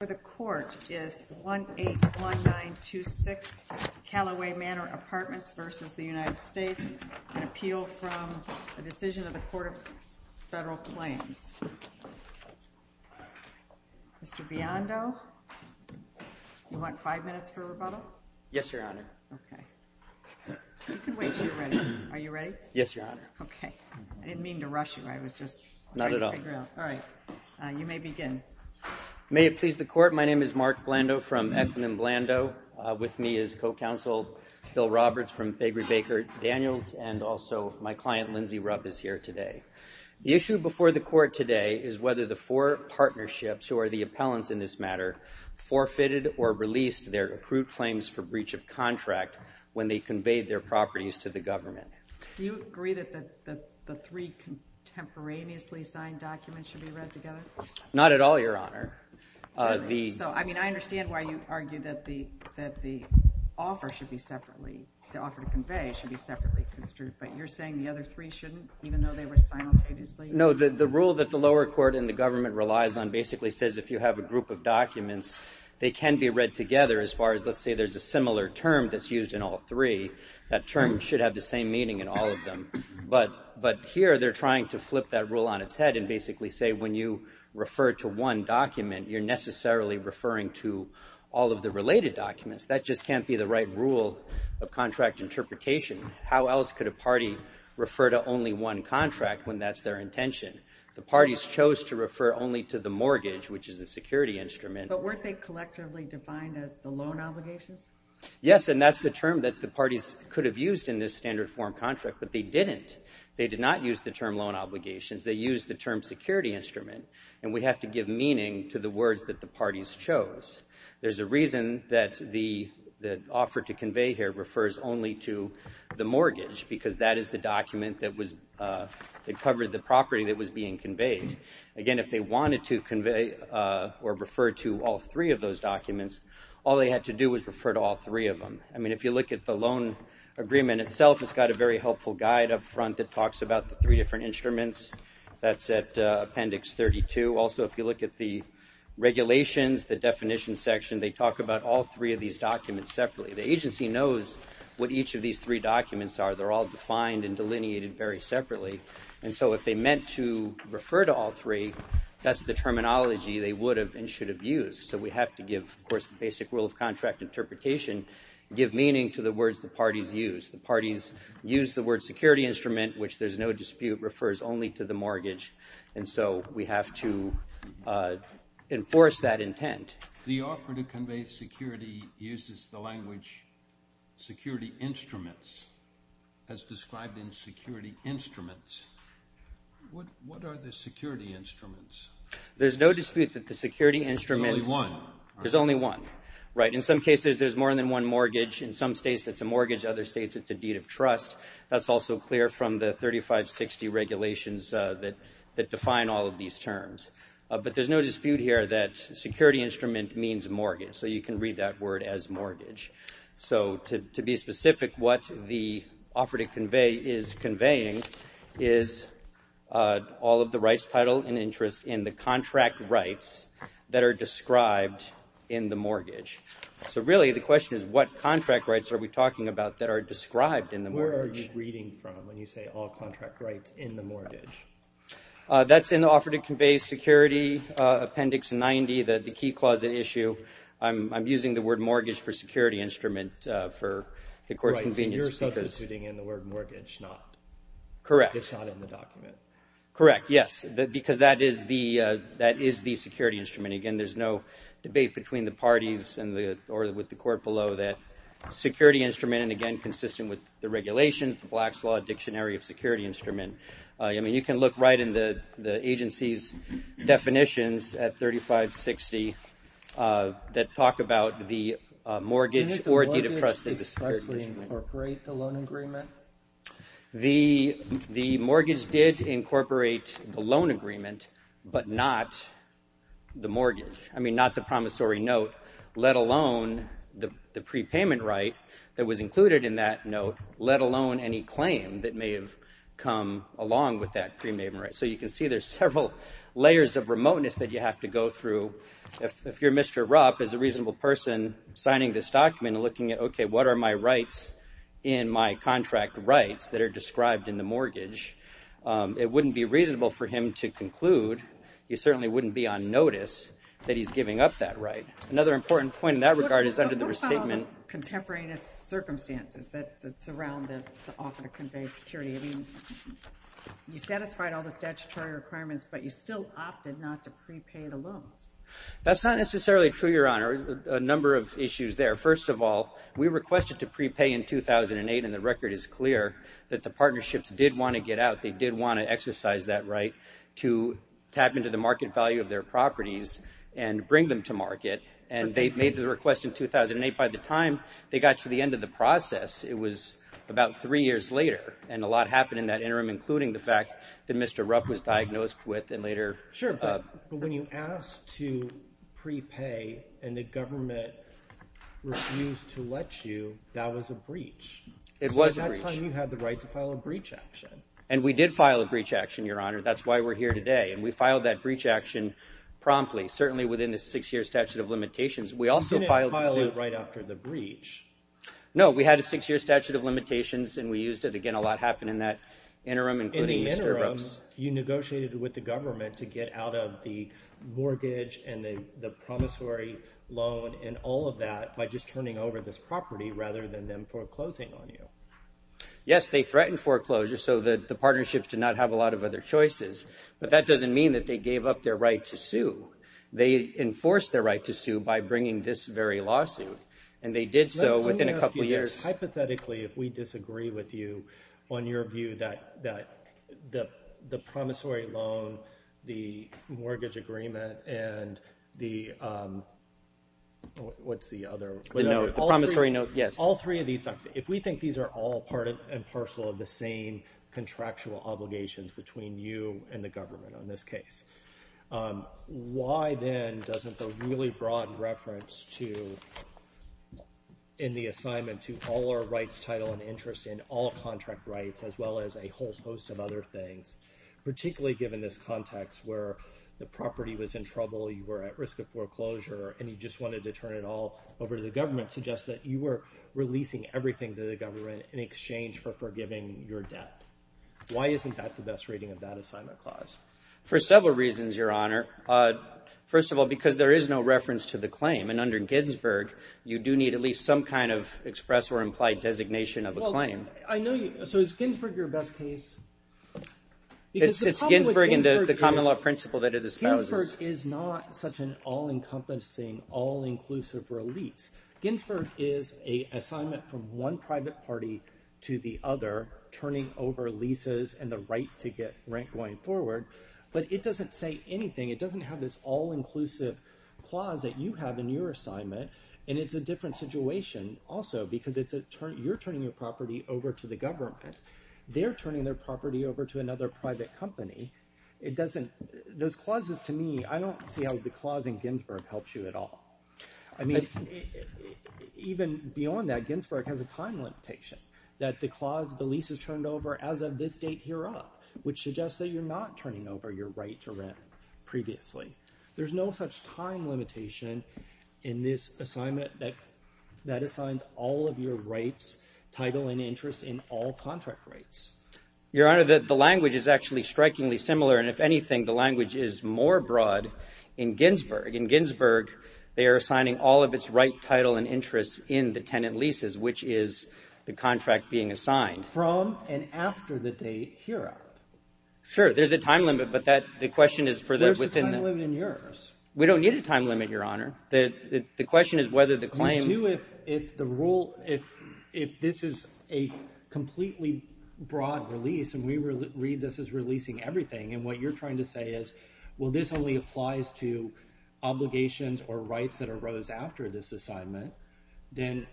for the Court is 1-81926 Callaway Manor Apartments v. United States, an appeal from the Decision of the Court of Federal Claims. Mr. Biondo, you want five minutes for rebuttal? Yes, Your Honor. Okay. You can wait until you're ready. Are you ready? Yes, Your Honor. Okay. I didn't mean to rush you. I was just trying to figure out. Not at all. All right. You may begin. May it please the Court, my name is Mark Blando from acronym Blando. With me is co-counsel Bill Roberts from Fabry-Baker Daniels, and also my client Lindsay Rupp is here today. The issue before the Court today is whether the four partnerships, who are the appellants in this matter, forfeited or released their accrued claims for breach of contract when they conveyed their properties to the government. Do you agree that the three contemporaneously signed documents should be read together? Not at all, Your Honor. I mean, I understand why you argue that the offer should be separately, the offer to convey should be separately construed, but you're saying the other three shouldn't, even though they were simultaneously? No, the rule that the lower court and the government relies on basically says if you have a group of documents, they can be read together as far as let's say there's a similar term that's used in all three. That term should have the same meaning in all of them, but here they're trying to flip that rule on its head and basically say when you refer to one document, you're necessarily referring to all of the related documents. That just can't be the right rule of contract interpretation. How else could a party refer to only one contract when that's their intention? The parties chose to refer only to the mortgage, which is the security instrument. But weren't they collectively defined as the loan obligations? Yes, and that's the term that the parties could have used in this standard form contract, but they didn't. They did not use the term loan obligations. They used the term security instrument, and we have to give meaning to the words that the parties chose. There's a reason that the offer to convey here refers only to the mortgage, because that is the document that covered the property that was being conveyed. Again, if they wanted to convey or refer to all three of those documents, all they had to do was refer to all three of them. I mean, if you look at the loan agreement itself, it's got a very helpful guide up front that talks about the three different instruments. That's at Appendix 32. Also, if you look at the regulations, the definition section, they talk about all three of these documents separately. The agency knows what each of these three documents are. They're all defined and delineated very separately, and so if they meant to refer to all three, that's the terminology they would have and should have used. So we have to give, of course, the basic rule of contract interpretation, give meaning to the words the parties used. The parties used the word security instrument, which there's no dispute, refers only to the mortgage, and so we have to enforce that intent. The offer to convey security uses the language security instruments, as described in security instruments. What are the security instruments? There's no dispute that the security instruments... There's only one. There's only one, right. In some cases, there's more than one mortgage. In some states, it's a mortgage. Other states, it's a deed of trust. That's also clear from the 3560 regulations that define all of these terms, but there's no dispute here that security instrument means mortgage, so you can read that word as mortgage. So to be specific, what the offer to convey is is all of the rights, title, and interest in the contract rights that are described in the mortgage. So really, the question is what contract rights are we talking about that are described in the mortgage? Where are you reading from when you say all contract rights in the mortgage? That's in the offer to convey security, Appendix 90, the key clause at issue. I'm using the word mortgage for security instrument for, of course, convenience. Right, so you're substituting in the word mortgage, not... Correct. It's not in the document. Correct, yes, because that is the security instrument. Again, there's no debate between the parties or with the court below that security instrument, and again, consistent with the regulations, the Black's Law Dictionary of Security Instrument. I mean, you can look right in the agency's definitions at 3560 that talk about the mortgage or deed of trust as a security instrument. The mortgage did incorporate the loan agreement, but not the mortgage. I mean, not the promissory note, let alone the prepayment right that was included in that note, let alone any claim that may have come along with that prepayment right. So you can see there's several layers of remoteness that you have to go through. If you're Mr. Rupp, as a person signing this document and looking at, okay, what are my rights in my contract rights that are described in the mortgage, it wouldn't be reasonable for him to conclude, he certainly wouldn't be on notice, that he's giving up that right. Another important point in that regard is under the restatement... Look at all the contemporaneous circumstances that surround the offer to convey security. I mean, you satisfied all the statutory requirements, but you still opted not to prepay the loans. That's not necessarily true, Your Honor. A number of issues there. First of all, we requested to prepay in 2008, and the record is clear that the partnerships did want to get out. They did want to exercise that right to tap into the market value of their properties and bring them to market, and they made the request in 2008. By the time they got to the end of the process, it was about three years later, and a lot happened in that interim, including the fact that Mr. Rupp was diagnosed with and later... Sure, but when you ask to prepay and the government refused to let you, that was a breach. It was a breach. At that time, you had the right to file a breach action. And we did file a breach action, Your Honor. That's why we're here today, and we filed that breach action promptly, certainly within the six-year statute of limitations. We also filed... You didn't file it right after the breach. No, we had a six-year statute of limitations, and we used it. Again, a lot happened in that interim, including Mr. Rupp's... In the interim, you negotiated with the promissory loan and all of that by just turning over this property rather than them foreclosing on you. Yes, they threatened foreclosure so that the partnerships did not have a lot of other choices, but that doesn't mean that they gave up their right to sue. They enforced their right to sue by bringing this very lawsuit, and they did so within a couple years. Let me ask you this. Hypothetically, if we disagree with you on your view that the promissory loan, the mortgage agreement, and the... What's the other? The note. The promissory note, yes. All three of these, if we think these are all part and parcel of the same contractual obligations between you and the government on this case, why then doesn't the really broad reference in the case, particularly given this context where the property was in trouble, you were at risk of foreclosure, and you just wanted to turn it all over to the government, suggest that you were releasing everything to the government in exchange for forgiving your debt? Why isn't that the best rating of that assignment clause? For several reasons, Your Honor. First of all, because there is no reference to the claim, and under Ginsburg, you do need at least some kind of express or implied designation of a claim. Well, I know you... So is Ginsburg your best case? It's Ginsburg and the common law principle that it espouses. Ginsburg is not such an all-encompassing, all-inclusive release. Ginsburg is an assignment from one private party to the other, turning over leases and the government. It doesn't say anything. It doesn't have this all-inclusive clause that you have in your assignment, and it's a different situation also, because you're turning your property over to the government. They're turning their property over to another private company. It doesn't... Those clauses, to me, I don't see how the clause in Ginsburg helps you at all. I mean, even beyond that, Ginsburg has a time limitation that the clause, the lease is turned over as of this date hereup, which suggests that you're not turning over your right to rent previously. There's no such time limitation in this assignment that assigns all of your rights, title, and interest in all contract rights. Your Honor, the language is actually strikingly similar, and if anything, the language is more broad in Ginsburg. In Ginsburg, they are assigning all of its right, title, and interests in the tenant leases, which is the contract being assigned. From and after the date hereup. Sure. There's a time limit, but that... The question is for the... There's a time limit in yours. We don't need a time limit, Your Honor. The question is whether the claim... If the rule... If this is a completely broad release, and we read this as releasing everything, and what you're trying to say is, well, this only applies to obligations or rights that arose after this assignment, then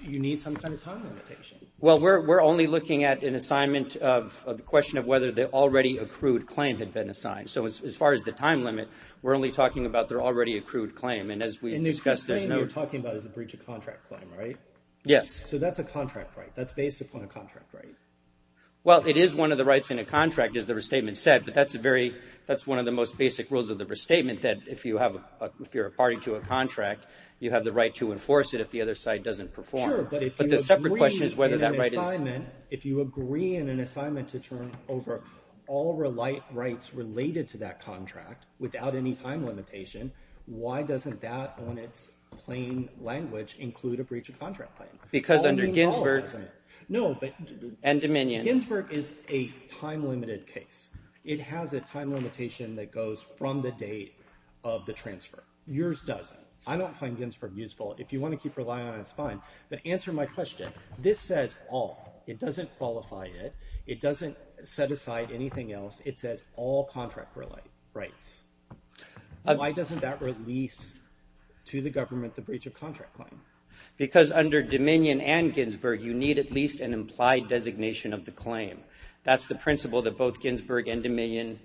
you need some kind of time limitation. Well, we're only looking at an assignment of the question of whether the already accrued claim had been assigned. So as far as the time limit, we're only talking about their already accrued claim, and as we discussed as notes... So that's a breach of contract claim, right? Yes. So that's a contract right. That's based upon a contract right. Well, it is one of the rights in a contract, as the restatement said, but that's a very... That's one of the most basic rules of the restatement, that if you're a party to a contract, you have the right to enforce it if the other side doesn't perform. Sure, but if you agree in an assignment... But the separate question is whether that right is... ...include a breach of contract claim. Because under Ginsberg... No, but... And Dominion. Ginsberg is a time-limited case. It has a time limitation that goes from the date of the transfer. Yours doesn't. I don't find Ginsberg useful. If you want to keep relying on it, it's fine, but answer my question. This says all. It doesn't qualify it. It doesn't set aside anything else. It says all contract rights. Why doesn't that release to the government the breach of contract claim? Because under Dominion and Ginsberg, you need at least an implied designation of the claim. That's the principle that both Ginsberg and Dominion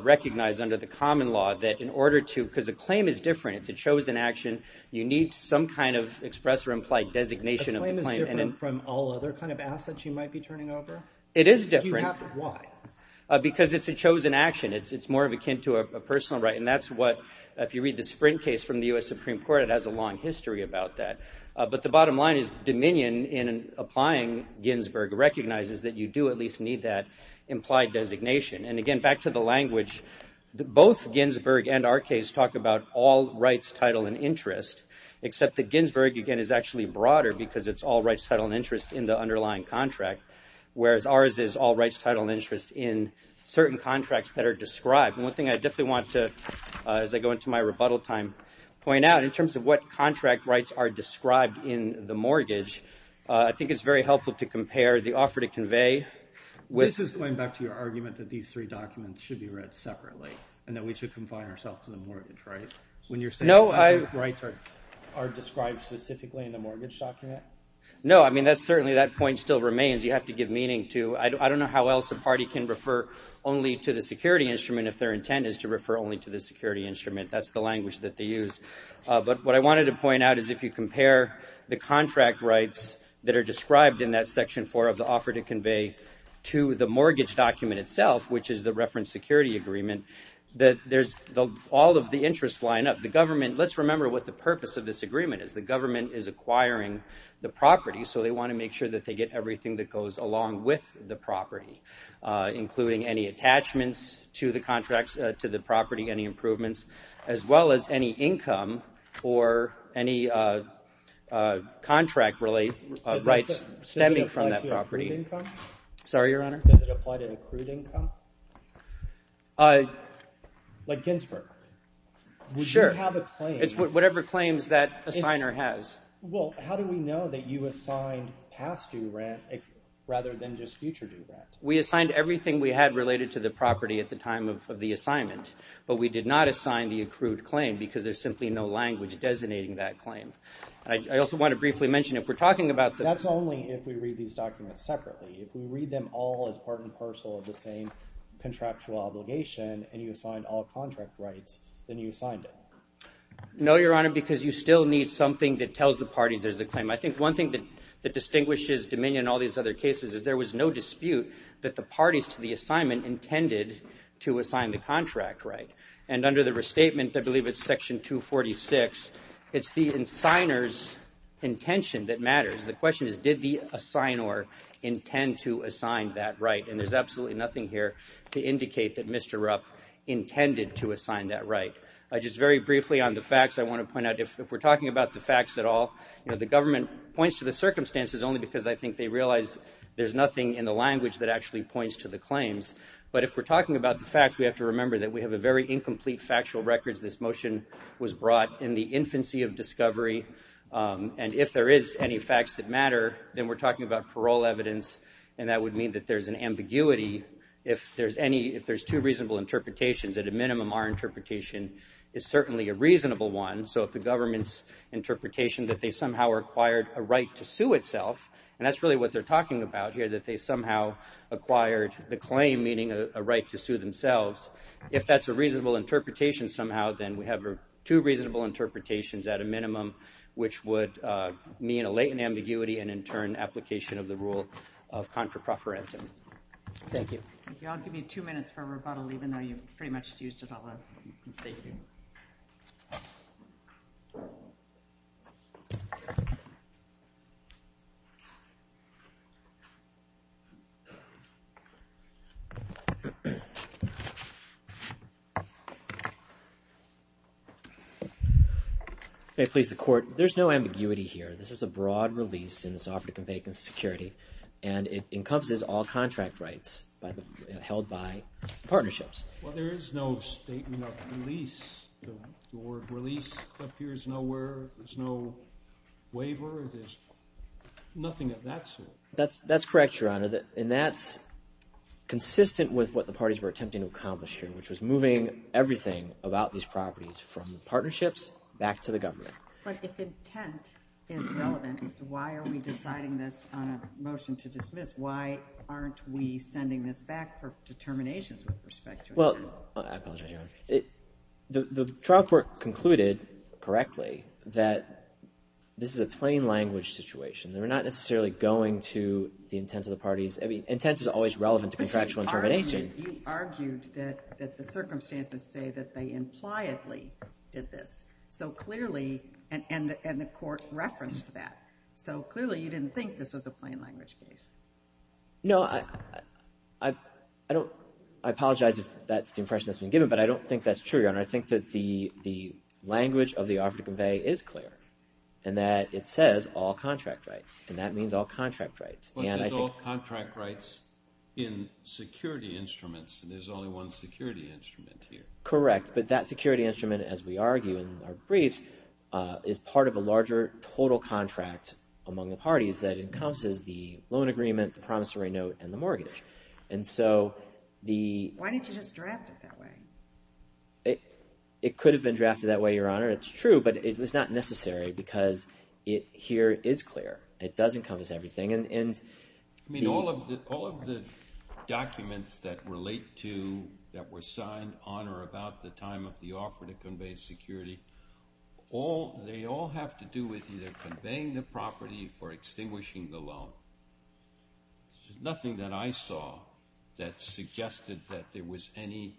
recognize under the common law, that in order to... Because a claim is different. It's a chosen action. You need some kind of express or implied designation of the claim. A claim is different from all other kind of assets you might be turning over? It is different. Why? Because it's a chosen action. It's more akin to a personal right. And that's what, if you read the Sprint case from the U.S. Supreme Court, it has a long history about that. But the bottom line is Dominion, in applying Ginsberg, recognizes that you do at least need that implied designation. And again, back to the language, both Ginsberg and our case talk about all rights, title, and interest, except that Ginsberg, again, is actually broader because it's all rights, title, and interest in the underlying contract, whereas ours is all rights, title, and interest in certain contracts that are described. And one thing I definitely want to, as I go into my rebuttal time, point out in terms of what contract rights are described in the mortgage, I think it's very helpful to compare the offer to convey with... These three documents should be read separately, and that we should confine ourselves to the mortgage, right? When you're saying the contract rights are described specifically in the mortgage document? No, I mean, certainly that point still remains. You have to give meaning to... I don't know how else a party can refer only to the security instrument if their intent is to refer only to the security instrument. That's the language that they use. But what I wanted to point out is if you compare the contract rights that are described in that section four of the offer to convey to the mortgage document itself, which is the reference security agreement, that there's all of the interest line up. The government... Let's remember what the purpose of this agreement is. The government is acquiring the property, so they want to make sure that they get everything that goes along with the property, including any attachments to the property, any improvements, as well as any income or any contract-related rights stemming from that property. Does it apply to accrued income? Sorry, Your Honor? Does it apply to accrued income? Like Ginsberg? Sure. Would you have a claim? It's whatever claims that assigner has. Well, how do we know that you assigned past-due rent rather than just future-due rent? We assigned everything we had related to the property at the time of the assignment, but we did not assign the accrued claim because there's simply no language designating that claim. I also want to briefly mention, if we're talking about the... That's only if we read these documents separately. If we read them all as part and parcel of the same contractual obligation and you assigned all contract rights, then you assigned it. No, Your Honor, because you still need something that tells the parties there's a claim. I think one thing that distinguishes Dominion and all these other cases is there was no dispute that the parties to the assignment intended to assign the contract right. And under the restatement, I believe it's Section 246, it's the assigner's intention that matters. The question is, did the assignor intend to assign that right? And there's absolutely nothing here to indicate that Mr. Rupp intended to assign that right. Just very briefly on the facts, I want to point out, if we're talking about the facts at all, the government points to the circumstances only because I think they realize there's nothing in the language that actually points to the claims. But if we're talking about the facts, we have to remember that we have a very incomplete factual records. This motion was brought in the infancy of discovery. And if there is any facts that matter, then we're talking about parole evidence, and that would mean that there's an ambiguity. If there's two reasonable interpretations, at a minimum, our interpretation is certainly a reasonable one. So if the government's interpretation that they somehow acquired a right to sue itself, and that's really what they're talking about here, that they somehow acquired the claim, meaning a right to sue themselves. If that's a reasonable interpretation somehow, then we have two reasonable interpretations at a minimum, which would mean a latent ambiguity, and in turn, application of the rule of contra profferentum. Thank you. I'll give you two minutes for rebuttal, even though you pretty much used it all up. Thank you. May it please the court, there's no ambiguity here. This is a broad release in this offer to convey security, and it encompasses all contract rights held by partnerships. Well, there is no statement of release. The word release appears nowhere. There's no waiver. There's nothing of that sort. That's correct, Your Honor, and that's consistent with what the parties were attempting to accomplish here, which was moving everything about these properties from the partnerships back to the government. But if intent is relevant, why are we deciding this on a motion to dismiss? Why aren't we sending this back for determinations with respect to intent? Well, I apologize, Your Honor. The trial court concluded correctly that this is a plain language situation. They were not necessarily going to the intent of the parties. Intent is always relevant to contractual determination. You argued that the circumstances say that they impliedly did this, and the court referenced that. So clearly, you didn't think this was a plain language case. No, I apologize if that's the impression that's been given, but I don't think that's true, Your Honor. I think that the language of the offer to convey is clear, and that it says all contract rights, and that means all contract rights. It says all contract rights in security instruments, and there's only one security instrument here. Correct, but that security instrument, as we argue in our briefs, is part of a larger total contract among the parties that encompasses the loan agreement, the promissory note, and the mortgage. Why didn't you just draft it that way? It could have been drafted that way, Your Honor. It's true, but it was not necessary because it here is clear. It does encompass everything. All of the documents that relate to, that were signed on or about the time of the offer to convey security, they all have to do with either conveying the property or extinguishing the loan. There's nothing that I saw that suggested that there was any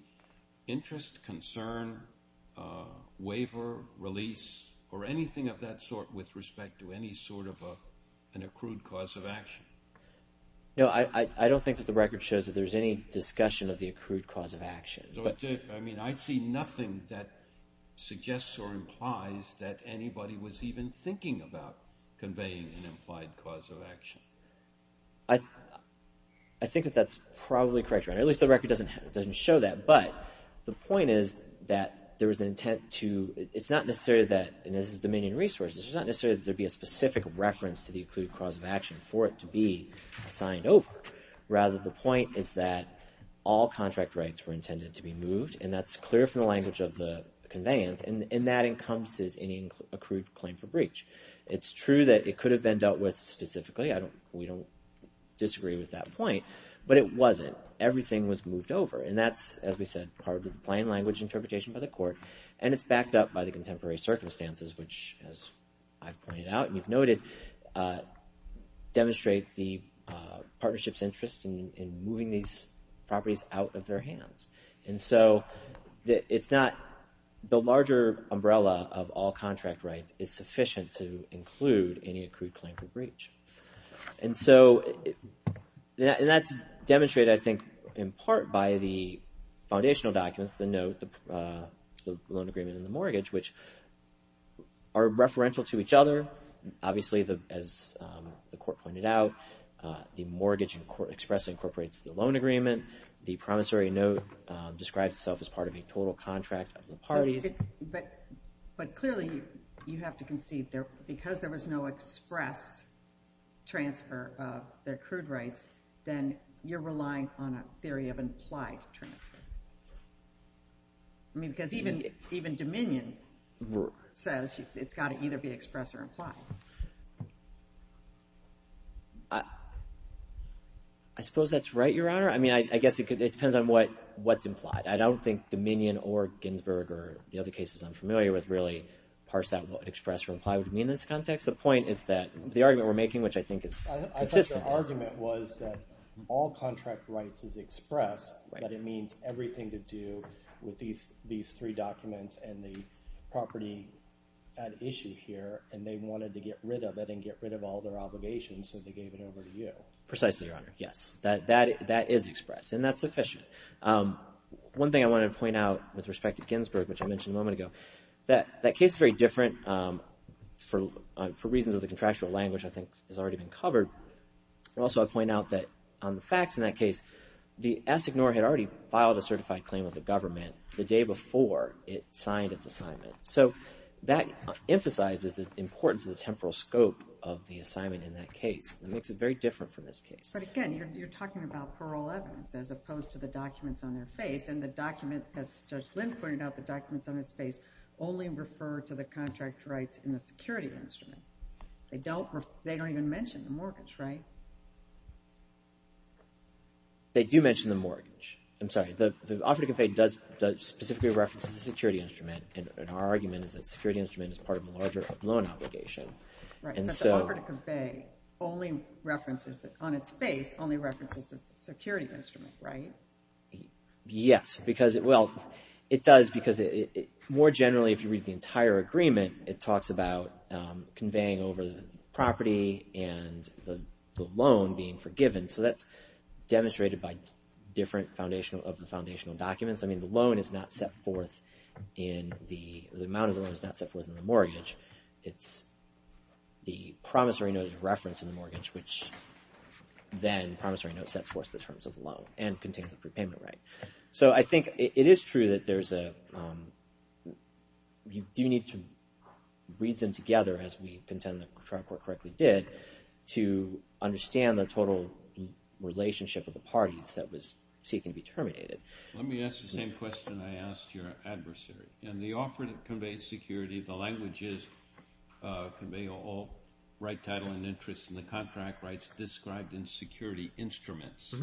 interest, concern, waiver, release, or anything of that sort with respect to any sort of an accrued cause of action. No, I don't think that the record shows that there's any discussion of the accrued cause of action. I mean, I see nothing that suggests or implies that anybody was even thinking about conveying an implied cause of action. I think that that's probably correct, Your Honor. At least the record doesn't show that. But the point is that there was an intent to – it's not necessary that – and this is Dominion Resources – it's not necessary that there be a specific reference to the accrued cause of action for it to be signed over. Rather, the point is that all contract rights were intended to be moved, and that's clear from the language of the conveyance, and that encompasses any accrued claim for breach. It's true that it could have been dealt with specifically. We don't disagree with that point, but it wasn't. Everything was moved over, and that's, as we said, part of the plain language interpretation by the court, and it's backed up by the contemporary circumstances, which, as I've pointed out and you've noted, demonstrate the partnership's interest in moving these properties out of their hands. And so it's not – the larger umbrella of all contract rights is sufficient to include any accrued claim for breach. And so – and that's demonstrated, I think, in part by the foundational documents, the note, the loan agreement, and the mortgage, which are referential to each other. Obviously, as the court pointed out, the mortgage express incorporates the loan agreement. The promissory note describes itself as part of a total contract of the parties. But clearly, you have to concede there – because there was no express transfer of their accrued rights, then you're relying on a theory of implied transfer. I mean, because even Dominion says it's got to either be express or implied. I suppose that's right, Your Honor. I mean, I guess it depends on what's implied. I don't think Dominion or Ginsberg or the other cases I'm familiar with really parse out what express or imply would mean in this context. The point is that the argument we're making, which I think is consistent – I think the argument was that all contract rights is expressed, but it means everything to do with these three documents and the property at issue here. And they wanted to get rid of it and get rid of all their obligations, so they gave it over to you. Precisely, Your Honor. Yes, that is expressed, and that's sufficient. One thing I wanted to point out with respect to Ginsberg, which I mentioned a moment ago, that that case is very different for reasons of the contractual language I think has already been covered. Also, I'll point out that on the facts in that case, the SIGNOR had already filed a certified claim with the government the day before it signed its assignment. So that emphasizes the importance of the temporal scope of the assignment in that case. It makes it very different from this case. But again, you're talking about parole evidence as opposed to the documents on their face. And the document, as Judge Lin pointed out, the documents on his face only refer to the contract rights in the security instrument. They don't even mention the mortgage, right? They do mention the mortgage. I'm sorry, the offer to convey specifically references the security instrument. And our argument is that the security instrument is part of a larger loan obligation. Right, but the offer to convey only references, on its face, only references the security instrument, right? Yes, because it, well, it does because more generally if you read the entire agreement, it talks about conveying over the property and the loan being forgiven. So that's demonstrated by different foundational, of the foundational documents. I mean, the loan is not set forth in the, the amount of the loan is not set forth in the mortgage. It's, the promissory note is referenced in the mortgage, which then the promissory note sets forth the terms of the loan and contains the prepayment right. So I think it is true that there's a, you do need to read them together as we contend the trial court correctly did, to understand the total relationship of the parties that was seeking to be terminated. Let me ask the same question I asked your adversary. In the offer that conveys security, the language is conveying all right title and interests and the contract rights described in security instruments.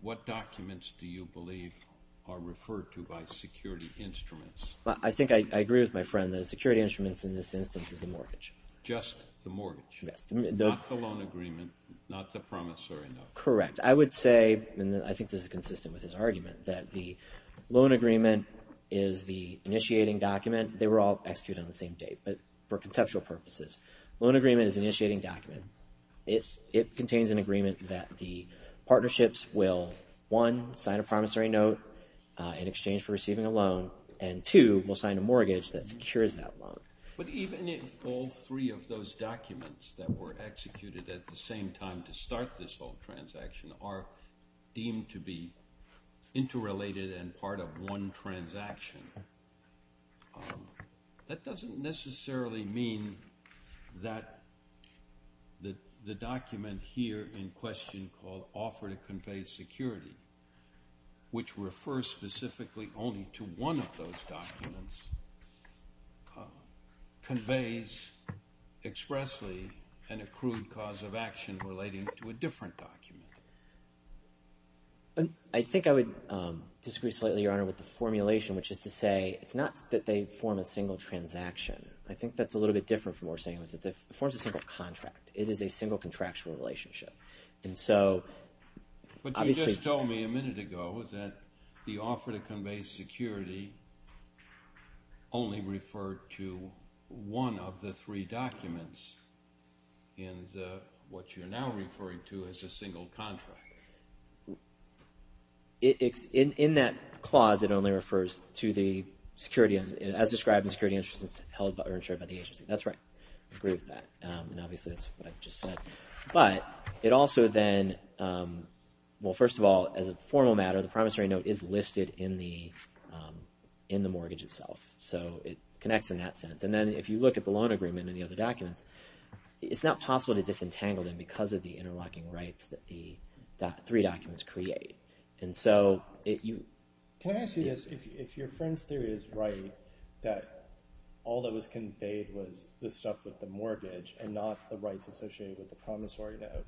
What documents do you believe are referred to by security instruments? I think I agree with my friend that security instruments in this instance is the mortgage. Just the mortgage? Yes. Not the loan agreement, not the promissory note. Correct. I would say, and I think this is consistent with his argument, that the loan agreement is the initiating document. They were all executed on the same date, but for conceptual purposes. Loan agreement is initiating document. It contains an agreement that the partnerships will, one, sign a promissory note in exchange for receiving a loan, and two, will sign a mortgage that secures that loan. But even if all three of those documents that were executed at the same time to start this whole transaction are deemed to be interrelated and part of one transaction, that doesn't necessarily mean that the document here in question called offer to convey security, which refers specifically only to one of those documents, conveys expressly an accrued cause of action relating to a different document. I think I would disagree slightly, Your Honor, with the formulation, which is to say it's not that they form a single transaction. I think that's a little bit different from what we're saying. It forms a single contract. It is a single contractual relationship. But you just told me a minute ago that the offer to convey security only referred to one of the three documents in what you're now referring to as a single contract. In that clause, it only refers to the security, as described in security insurance held by or insured by the agency. That's right. I agree with that. And obviously, that's what I've just said. But it also then, well, first of all, as a formal matter, the promissory note is listed in the mortgage itself. So it connects in that sense. And then if you look at the loan agreement and the other documents, it's not possible to disentangle them because of the interlocking rights that the three documents create. Can I ask you this? If your friend's theory is right, that all that was conveyed was the stuff with the mortgage and not the rights associated with the promissory note,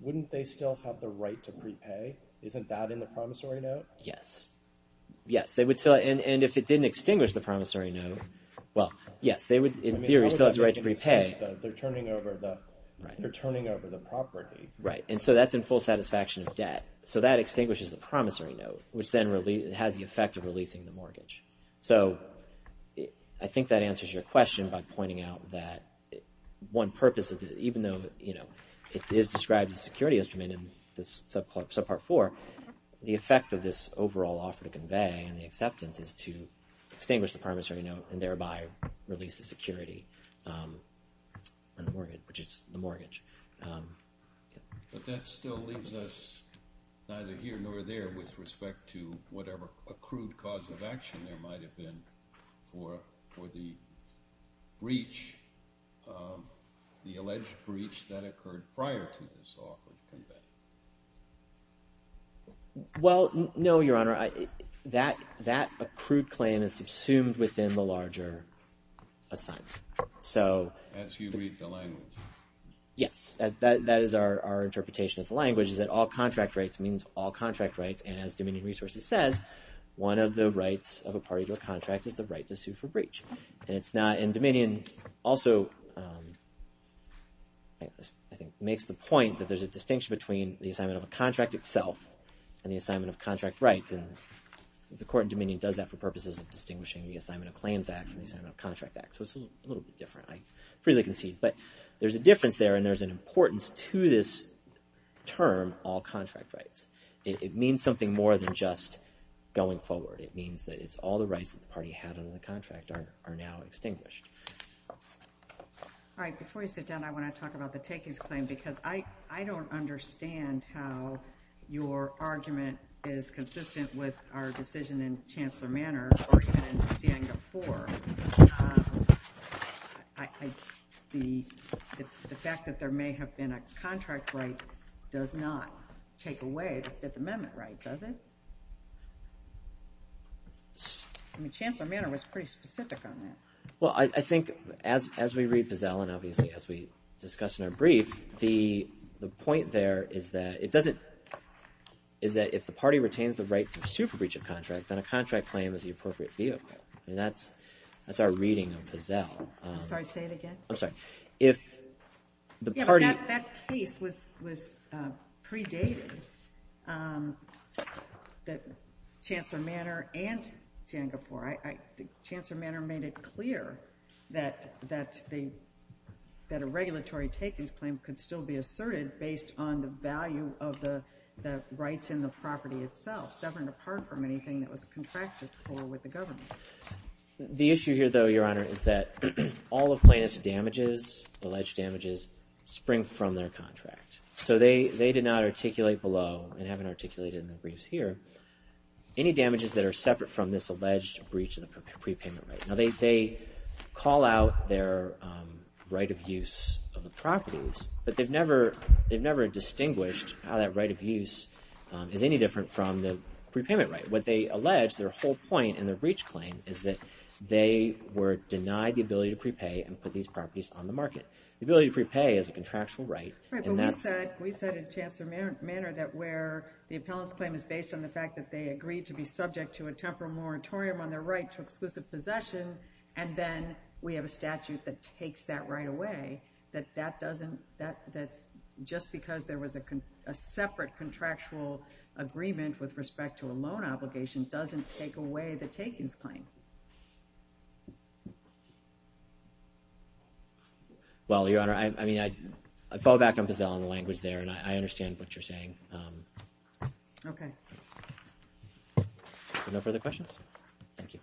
wouldn't they still have the right to prepay? Isn't that in the promissory note? Yes. Yes. And if it didn't extinguish the promissory note, well, yes, they would, in theory, still have the right to prepay. They're turning over the property. Right. And so that's in full satisfaction of debt. So that extinguishes the promissory note, which then has the effect of releasing the mortgage. So I think that answers your question by pointing out that one purpose, even though it is described as a security instrument in this subpart 4, the effect of this overall offer to convey and the acceptance is to extinguish the promissory note and thereby release the security on the mortgage, which is the mortgage. But that still leaves us neither here nor there with respect to whatever accrued cause of action there might have been for the breach, the alleged breach that occurred prior to this offer to convey. Well, no, Your Honor. That accrued claim is subsumed within the larger assignment. As you read the language. Yes. That is our interpretation of the language is that all contract rights means all contract rights. And as Dominion Resources says, one of the rights of a party to a contract is the right to sue for breach. And Dominion also makes the point that there's a distinction between the assignment of a contract itself and the assignment of contract rights. And the court in Dominion does that for purposes of distinguishing the Assignment of Claims Act from the Assignment of Contract Act. So it's a little bit different. But there's a difference there and there's an importance to this term, all contract rights. It means something more than just going forward. It means that it's all the rights that the party had under the contract are now extinguished. All right. Before you sit down, I want to talk about the takings claim because I don't understand how your argument is consistent with our decision in Chancellor Manor or even in Sienga 4. The fact that there may have been a contract right does not take away the Fifth Amendment right, does it? Chancellor Manor was pretty specific on that. Well, I think as we read Pazell and obviously as we discuss in our brief, the point there is that if the party retains the rights of super breach of contract, then a contract claim is the appropriate vehicle. That's our reading of Pazell. That case was predated that Chancellor Manor and Sienga 4. Chancellor Manor made it clear that a regulatory takings claim could still be asserted based on the value of the rights in the property itself separate apart from anything that was contracted with the government. The issue here though, Your Honor, is that all of plaintiff's damages, alleged damages, spring from their contract. So they did not articulate below and haven't articulated in the briefs here, any damages that are separate from this alleged breach of the prepayment right. Now they call out their right of use of the properties, but they've never distinguished how that right of use is any different from the prepayment right. What they allege, their whole point in the breach claim is that they were denied the ability to prepay and put these properties on the market. The ability to prepay is a contractual right. We said in Chancellor Manor that where the appellant's claim is based on the fact that they agreed to be subject to a temporal moratorium on their right to exclusive possession and then we have a statute that takes that right away that just because there was a separate contractual agreement with respect to a loan obligation doesn't take away the takings claim. Well, Your Honor, I mean, I fall back on Pazell on the language there and I understand what you're saying. Okay. No further questions? Thank you.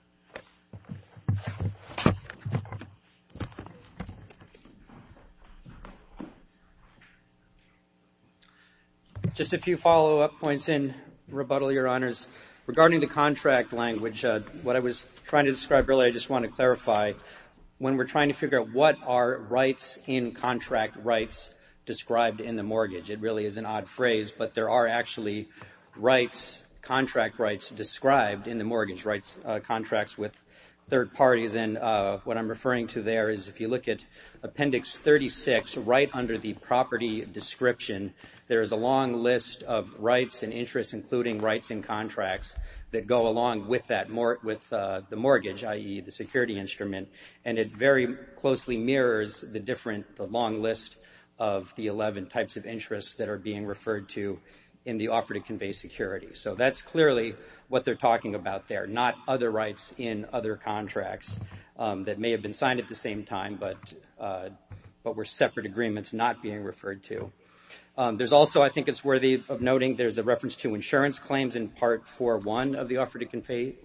Just a few follow-up points and rebuttal, Your Honors. Regarding the contract language, what I was trying to describe earlier, I just want to clarify when we're trying to figure out what are rights in contract rights described in the mortgage. It really is an odd phrase, but there are actually rights, contract rights described in the mortgage. Contracts with third parties and what I'm referring to there is if you look at Appendix 36 right under the property description, there is a long list of rights and interests including rights in contracts that go along with that with the mortgage, i.e. the security instrument and it very closely mirrors the different long list of the 11 types of interests that are being referred to in the offer to convey security. So that's clearly what they're talking about there, not other rights in other contracts that may have been signed at the same time but were separate agreements not being referred to. There's also, I think it's worthy of noting, there's a reference to insurance claims in Part 4.1 of the offer to convey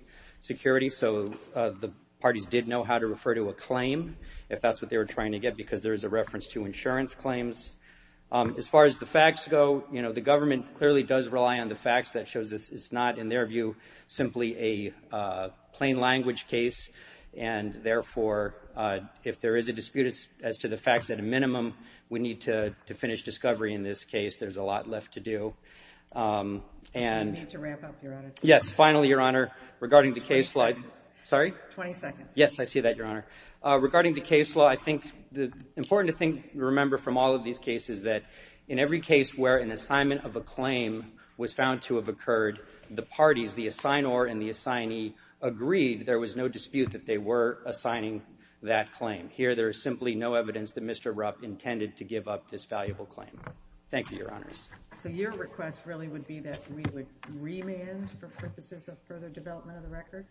security, so the parties did know how to refer to a claim if that's what they were trying to get because there's a reference to insurance claims. As far as the facts go, the government clearly does rely on the facts that shows it's not, in their view, simply a plain language case and, therefore, if there is a dispute as to the facts at a minimum, we need to finish discovery in this case. There's a lot left to do. You need to wrap up, Your Honor. Yes, finally, Your Honor, regarding the case law. 20 seconds. Yes, I see that, Your Honor. Regarding the case law, I think it's important to remember from all of these cases that in every case where an assignment of a claim was found to have occurred, the parties, the assignor and the assignee agreed there was no dispute that they were assigning that claim. Here, there is simply no evidence that Mr. Rupp intended to give up this valuable claim. Thank you, Your Honors. So your request really would be that we would remand for purposes of further development of the record?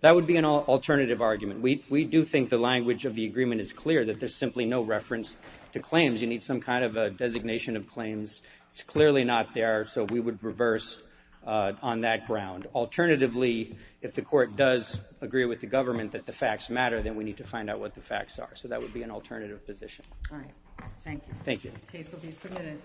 That would be an alternative argument. We do think the language of the agreement is clear, that there's simply no reference to claims. You need some kind of a designation of claims. It's clearly not there, so we would reverse on that ground. Alternatively, if the court does agree with the government that the facts matter, then we need to find out what the facts are. So that would be an alternative position. Thank you. The case will be submitted.